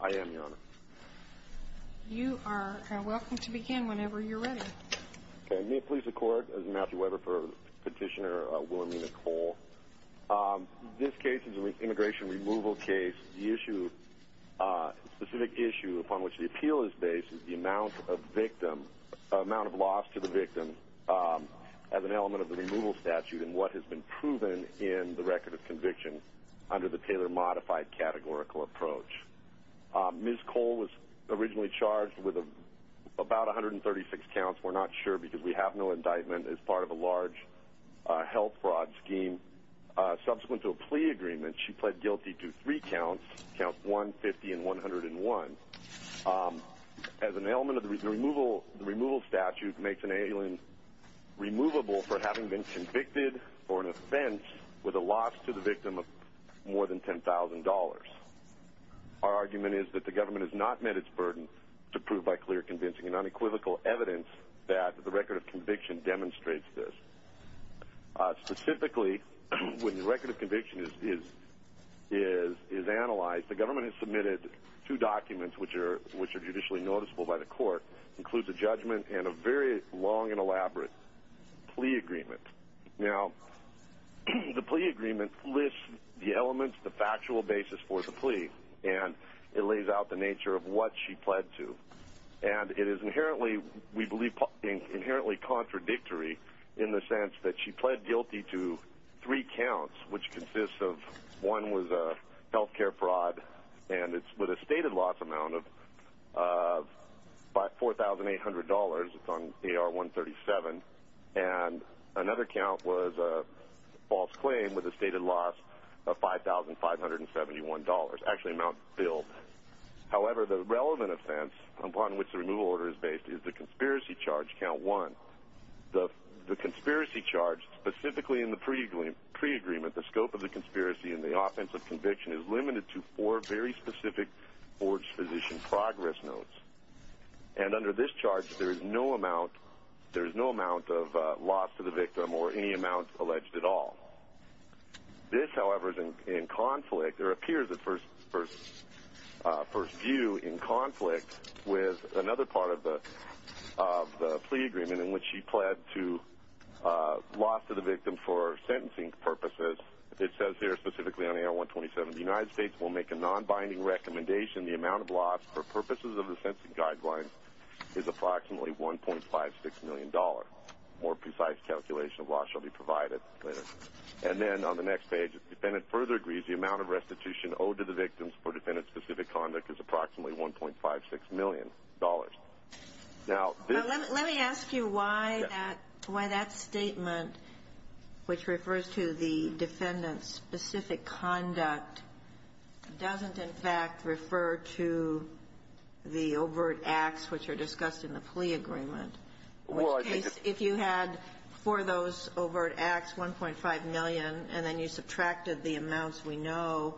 I am your honor. You are welcome to begin whenever you're ready. May it please the court, as Matthew Weber for petitioner Willamina Cole. This case is an immigration removal case. The specific issue upon which the appeal is based is the amount of loss to the victim as an element of the removal statute and what has been proven in the record of conviction under the Taylor Modified Categorical Approach. Ms. Cole was originally charged with about 136 counts. We're not sure because we have no indictment as part of a large health fraud scheme. Subsequent to a plea agreement, she pled guilty to three counts, count 150 and 101, as an element of the removal statute makes an alien removable for having been convicted for an offense with a loss to the victim of more than $10,000. Our argument is that the government has not met its burden to prove by clear convincing and unequivocal evidence that the record of conviction demonstrates this. Specifically, when the record of conviction is analyzed, the government has submitted two documents, which are judicially noticeable by the court, includes a judgment and a very long and elaborate plea agreement. Now, the plea agreement lists the elements, the factual basis for the plea, and it lays out the nature of what she pled to, and it is inherently, we believe, inherently contradictory in the sense that she pled guilty to three counts, which consists of one was a health care fraud, and it's with a stated loss amount of $4,800. It's on AR-137, and another count was a false claim with a stated loss of $5,571, actually amount filled. However, the relevant offense upon which the removal order is based is the conspiracy charge count one. The conspiracy charge, specifically in the plea agreement, the scope of the conspiracy and the offense of conviction is limited to four very specific forged physician progress notes. And under this charge, there is no amount of loss to the victim or any amount alleged at all. This, however, is in conflict. There appears at first view in conflict with another part of the plea agreement in which she pled to loss to the victim for sentencing purposes. It says here, specifically on AR-127, the United States will make a nonbinding recommendation. The amount of loss for purposes of the sentencing guidelines is approximately $1.56 million. More precise calculation of loss shall be provided later. And then on the next page, if the defendant further agrees, the amount of restitution owed to the victim for defendant-specific conduct is approximately $1.56 million. Now, this… Now, let me ask you why that statement, which refers to the defendant's specific conduct, doesn't in fact refer to the overt acts which are discussed in the plea agreement. In which case, if you had for those overt acts $1.5 million and then you subtracted the amounts we know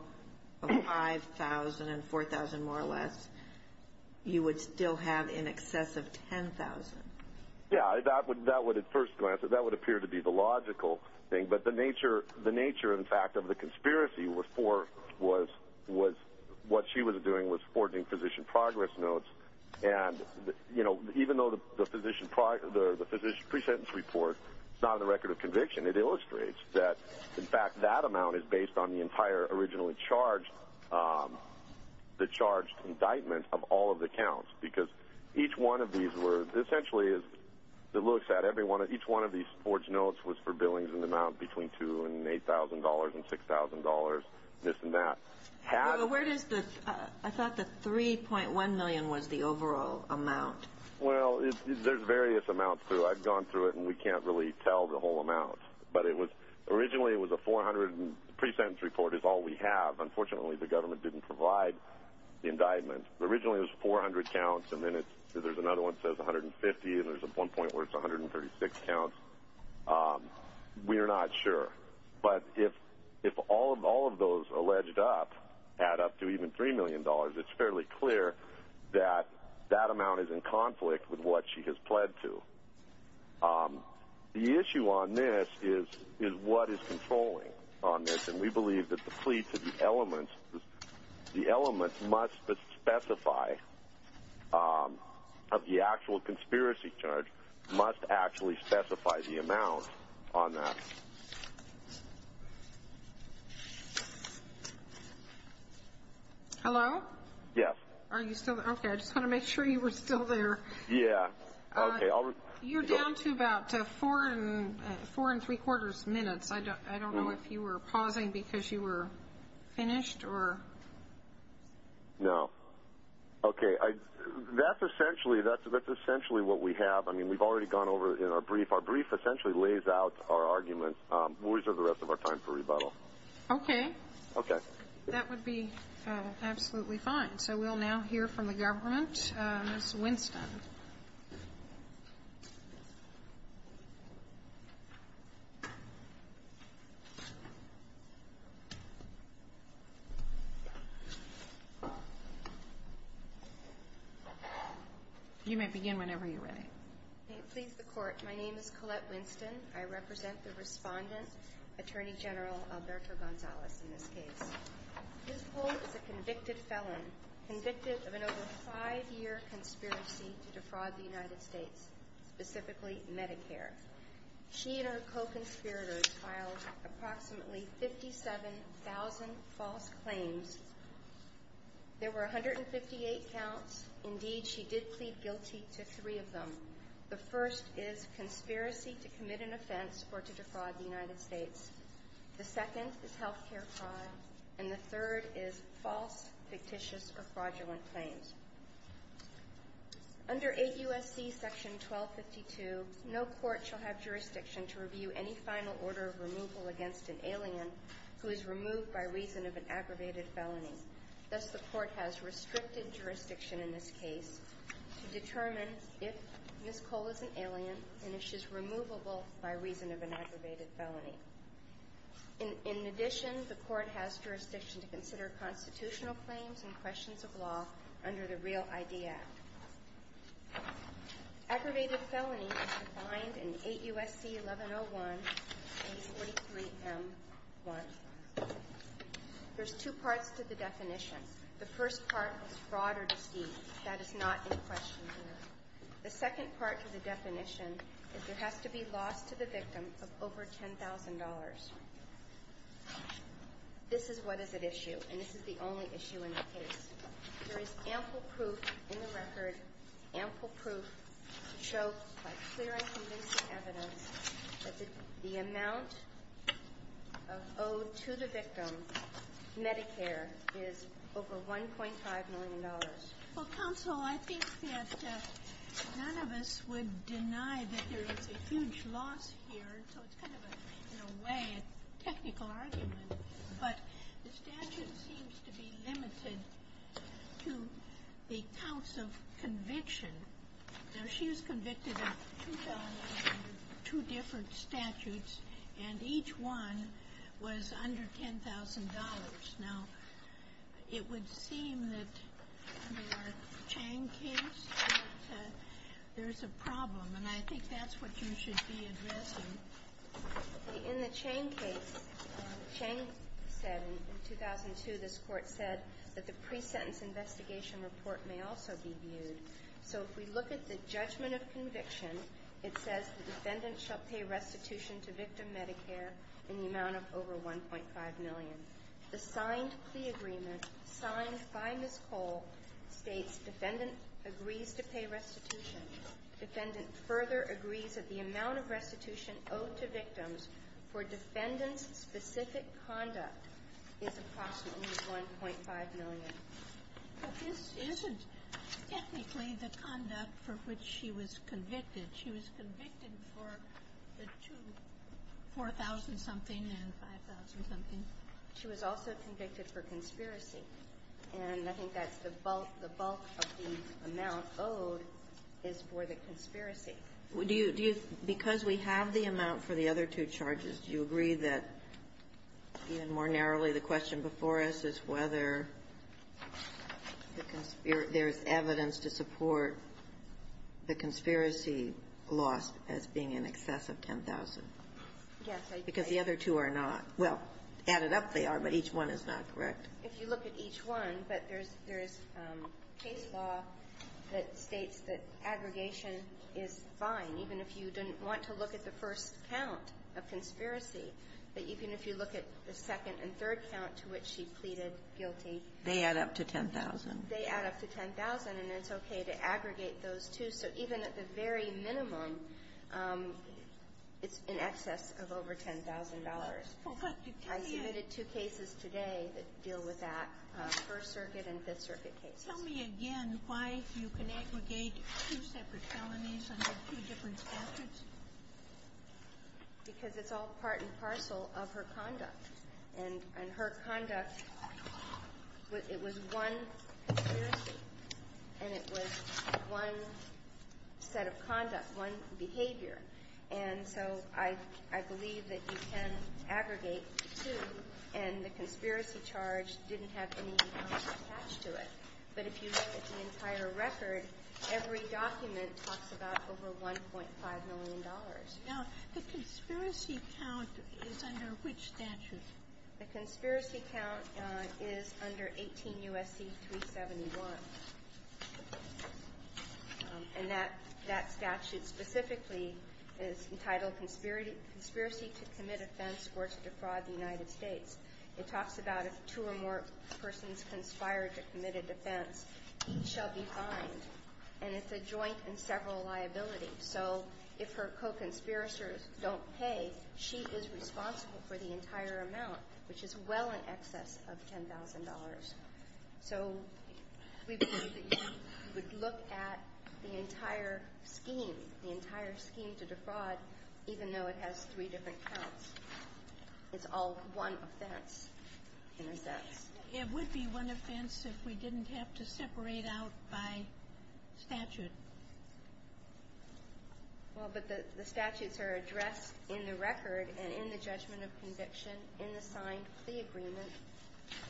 of $5,000 and $4,000 more or less, you would still have in excess of $10,000. Yeah, that would, at first glance, that would appear to be the logical thing. But the nature, in fact, of the conspiracy was what she was doing was forging physician progress notes. And, you know, even though the physician pre-sentence report is not on the record of conviction, it illustrates that, in fact, that amount is based on the entire originally charged, the charged indictment of all of the counts. Because each one of these were essentially, as it looks at, each one of these forged notes was for billings in the amount between $2,000 and $8,000 and $6,000, this and that. Where does the, I thought the $3.1 million was the overall amount. Well, there's various amounts. I've gone through it and we can't really tell the whole amount. But it was, originally it was a 400, pre-sentence report is all we have. Unfortunately, the government didn't provide the indictment. Originally it was 400 counts and then there's another one that says 150 and there's one point where it's 136 counts. We're not sure. But if all of those alleged up add up to even $3 million, it's fairly clear that that amount is in conflict with what she has pled to. The issue on this is what is controlling on this. And we believe that the plea to the elements, the elements must specify of the actual conspiracy charge must actually specify the amount on that. Hello? Yes. Are you still there? Okay, I just want to make sure you were still there. Yeah. Okay. You're down to about four and three quarters minutes. I don't know if you were pausing because you were finished or? No. Okay. That's essentially what we have. I mean, we've already gone over in our brief. Our brief essentially lays out our argument. We'll reserve the rest of our time for rebuttal. Okay. Okay. That would be absolutely fine. So we'll now hear from the government. Ms. Winston. You may begin whenever you're ready. May it please the Court. My name is Colette Winston. I represent the Respondent, Attorney General Alberto Gonzalez, in this case. This court is a convicted felon, convicted of an over five-year conspiracy to defraud the United States, specifically Medicare. She and her co-conspirators filed approximately 57,000 false claims. There were 158 counts. Indeed, she did plead guilty to three of them. The first is conspiracy to commit an offense or to defraud the United States. The second is health care fraud. And the third is false, fictitious, or fraudulent claims. Under 8 U.S.C. Section 1252, no court shall have jurisdiction to review any final order of removal against an alien who is removed by reason of an aggravated felony. Thus, the court has restricted jurisdiction in this case to determine if Ms. Cole is an alien and if she's removable by reason of an aggravated felony. In addition, the court has jurisdiction to consider constitutional claims and questions of law under the Real ID Act. Aggravated felony is defined in 8 U.S.C. 1101, page 43M1. There's two parts to the definition. The first part is fraud or deceit. That is not in question here. The second part to the definition is there has to be loss to the victim of over $10,000. This is what is at issue, and this is the only issue in the case. There is ample proof in the record, ample proof to show by clear and convincing evidence that the amount owed to the victim, Medicare, is over $1.5 million. Well, counsel, I think that none of us would deny that there is a huge loss here, so it's kind of a, in a way, a technical argument. But the statute seems to be limited to the counts of conviction. Now, she was convicted of two felonies under two different statutes, and each one was under $10,000. Now, it would seem that in our Chang case that there's a problem, and I think that's what you should be addressing. In the Chang case, Chang said in 2002, this Court said that the pre-sentence investigation report may also be viewed. So if we look at the judgment of conviction, it says the defendant shall pay restitution to victim Medicare in the amount of over $1.5 million. The signed plea agreement, signed by Ms. Cole, states defendant agrees to pay restitution. Defendant further agrees that the amount of restitution owed to victims for defendant's specific conduct is approximately $1.5 million. But this isn't technically the conduct for which she was convicted. She was convicted for the two, 4,000-something and 5,000-something. She was also convicted for conspiracy. And I think that's the bulk of the amount owed is for the conspiracy. Do you do you – because we have the amount for the other two charges, do you agree that, even more narrowly, the question before us is whether there's evidence to support the conspiracy lost as being in excess of $10,000? Yes, I do. Because the other two are not. Well, added up, they are, but each one is not correct. If you look at each one, but there's – there's case law that states that aggregation is fine, even if you didn't want to look at the first count of conspiracy. But even if you look at the second and third count to which she pleaded guilty They add up to $10,000. They add up to $10,000, and it's okay to aggregate those two. So even at the very minimum, it's in excess of over $10,000. I submitted two cases today that deal with that, First Circuit and Fifth Circuit cases. Tell me again why you can aggregate two separate felonies under two different statutes. Because it's all part and parcel of her conduct. And her conduct, it was one conspiracy, and it was one set of conduct, one behavior. And so I believe that you can aggregate two, and the conspiracy charge didn't have any accounts attached to it. But if you look at the entire record, every document talks about over $1.5 million. Now, the conspiracy count is under which statute? The conspiracy count is under 18 U.S.C. 371. And that statute specifically is entitled Conspiracy to Commit Offense or to Defraud the United States. It talks about if two or more persons conspire to commit a defense, each shall be fined. And it's a joint and several liability. So if her co-conspirators don't pay, she is responsible for the entire amount, which is well in excess of $10,000. So we believe that you would look at the entire scheme, the entire scheme to defraud, even though it has three different counts. It's all one offense, in a sense. It would be one offense if we didn't have to separate out by statute. Well, but the statutes are addressed in the record and in the judgment of conviction in the signed plea agreement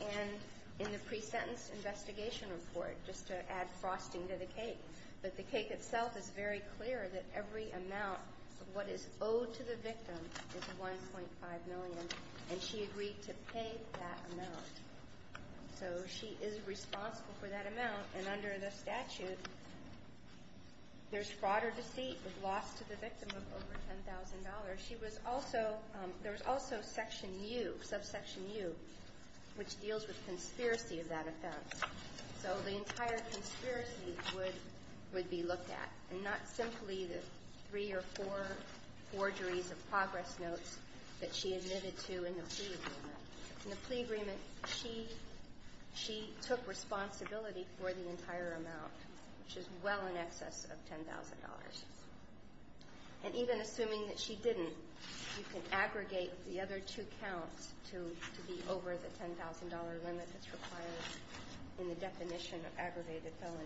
and in the pre-sentenced investigation report, just to add frosting to the cake. But the cake itself is very clear that every amount of what is owed to the victim is $1.5 million. And she agreed to pay that amount. So she is responsible for that amount. And under the statute, there's fraud or deceit with loss to the victim of over $10,000. She was also – there was also Section U, subsection U, which deals with conspiracy of that offense. So the entire conspiracy would be looked at, and not simply the three or four forgeries of progress notes that she admitted to in the plea agreement. In the plea agreement, she took responsibility for the entire amount, which is well in excess of $10,000. And even assuming that she didn't, you can aggregate the other two counts to be over the $10,000 limit that's required in the definition of aggravated felony.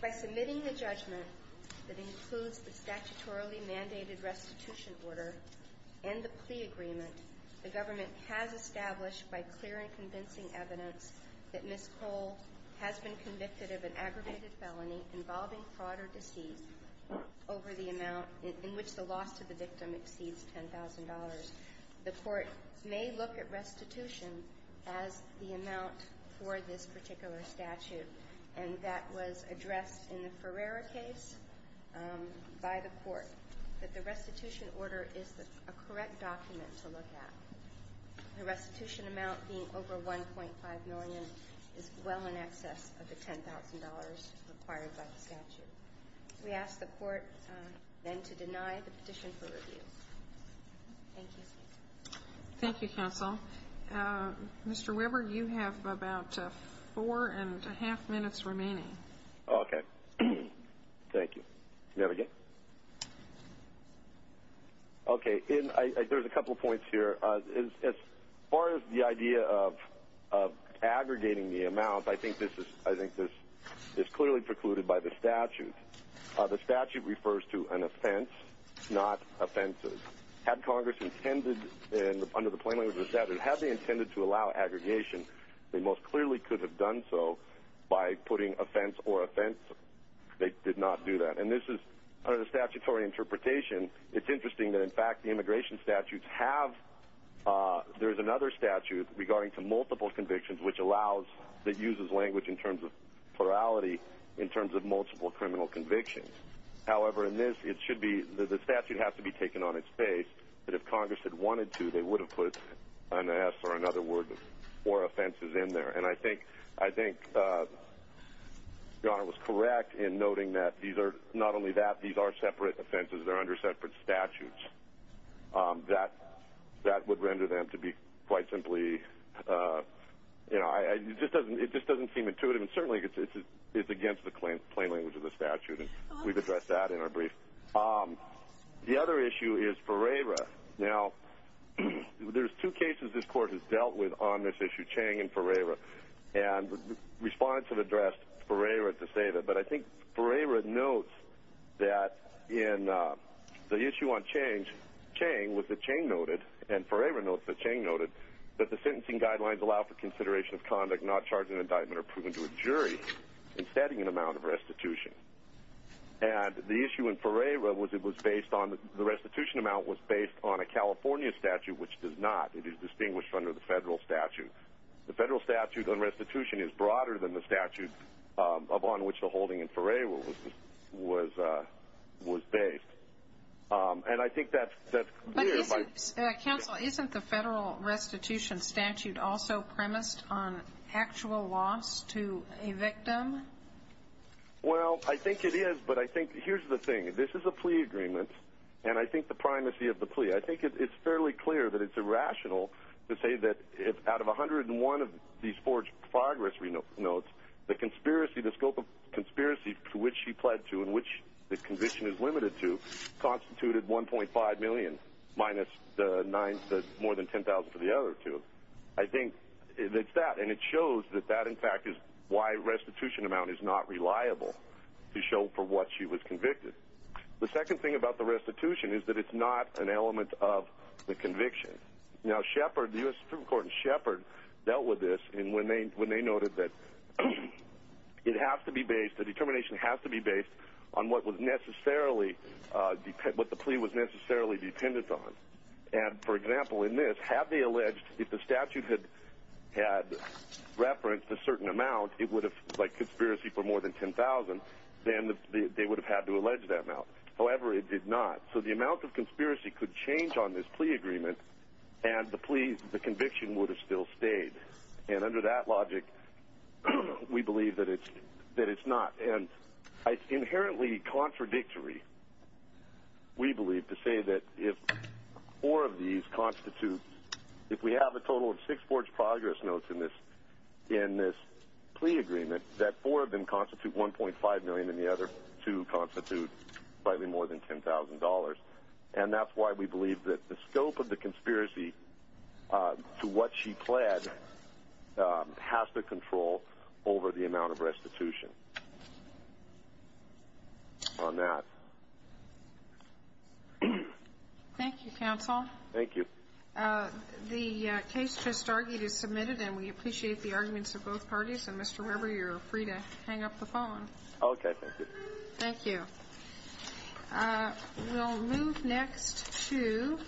By submitting the judgment that includes the statutorily mandated restitution order and the plea agreement, the government has established by clear and convincing evidence that Ms. Cole has been convicted of an aggravated felony involving fraud or deceit over the amount in which the loss to the victim exceeds $10,000. The court may look at restitution as the amount for this particular statute. And that was addressed in the Ferreira case by the court, that the restitution order is a correct document to look at, the restitution amount being over $1.5 million is well in excess of the $10,000 required by the statute. We ask the court then to deny the petition for review. Thank you. Thank you, counsel. Mr. Weber, you have about four and a half minutes remaining. Okay. Thank you. May I begin? Okay. There's a couple points here. As far as the idea of aggregating the amount, I think this is clearly precluded by the statute. The statute refers to an offense, not offenses. Had Congress intended, under the plain language of the statute, had they intended to allow aggregation, they most clearly could have done so by putting offense or offenses. They did not do that. And this is, under the statutory interpretation, it's interesting that, in fact, the immigration statutes have, there's another statute regarding to multiple convictions which allows, that uses language in terms of plurality, in terms of multiple criminal convictions. However, in this, it should be, the statute has to be taken on its face, that if Congress had wanted to, they would have put an S or another word, or offenses in there. And I think your Honor was correct in noting that these are, not only that, these are separate offenses. They're under separate statutes. That would render them to be quite simply, you know, it just doesn't seem intuitive. And certainly it's against the plain language of the statute. We've addressed that in our brief. The other issue is Ferreira. Now, there's two cases this Court has dealt with on this issue, Chang and Ferreira. And respondents have addressed Ferreira to save it. But I think Ferreira notes that in the issue on Chang, Chang was that Chang noted, and Ferreira notes that Chang noted that the sentencing guidelines allow for consideration of conduct, not charge an indictment or proving to a jury in setting an amount of restitution. And the issue in Ferreira was it was based on, the restitution amount was based on a California statute, which does not. It is distinguished under the federal statute. The federal statute on restitution is broader than the statute upon which the holding in Ferreira was based. And I think that's clear. Counsel, isn't the federal restitution statute also premised on actual loss to a victim? Well, I think it is, but I think here's the thing. This is a plea agreement, and I think the primacy of the plea, I think it's fairly clear that it's irrational to say that out of 101 of these forged progress notes, the conspiracy, the scope of conspiracy to which she pled to and which the conviction is limited to, constituted $1.5 million minus the nine, more than $10,000 for the other two. I think it's that, and it shows that that, in fact, is why restitution amount is not reliable to show for what she was convicted. The second thing about the restitution is that it's not an element of the conviction. Now, Shepard, the U.S. Supreme Court in Shepard, dealt with this when they noted that it has to be based, the determination has to be based on what the plea was necessarily dependent on. And, for example, in this, had they alleged if the statute had referenced a certain amount, it would have, like conspiracy for more than $10,000, then they would have had to allege that amount. However, it did not. So the amount of conspiracy could change on this plea agreement, and the plea, the conviction would have still stayed. And under that logic, we believe that it's not. And it's inherently contradictory, we believe, to say that if four of these constitute, if we have a total of six forged progress notes in this plea agreement, that four of them constitute $1.5 million and the other two constitute slightly more than $10,000. And that's why we believe that the scope of the conspiracy to what she pled has to control over the amount of restitution. On that. Thank you, counsel. Thank you. The case just argued is submitted, and we appreciate the arguments of both parties. And, Mr. Weber, you're free to hang up the phone. Okay, thank you. Thank you. We'll move next to...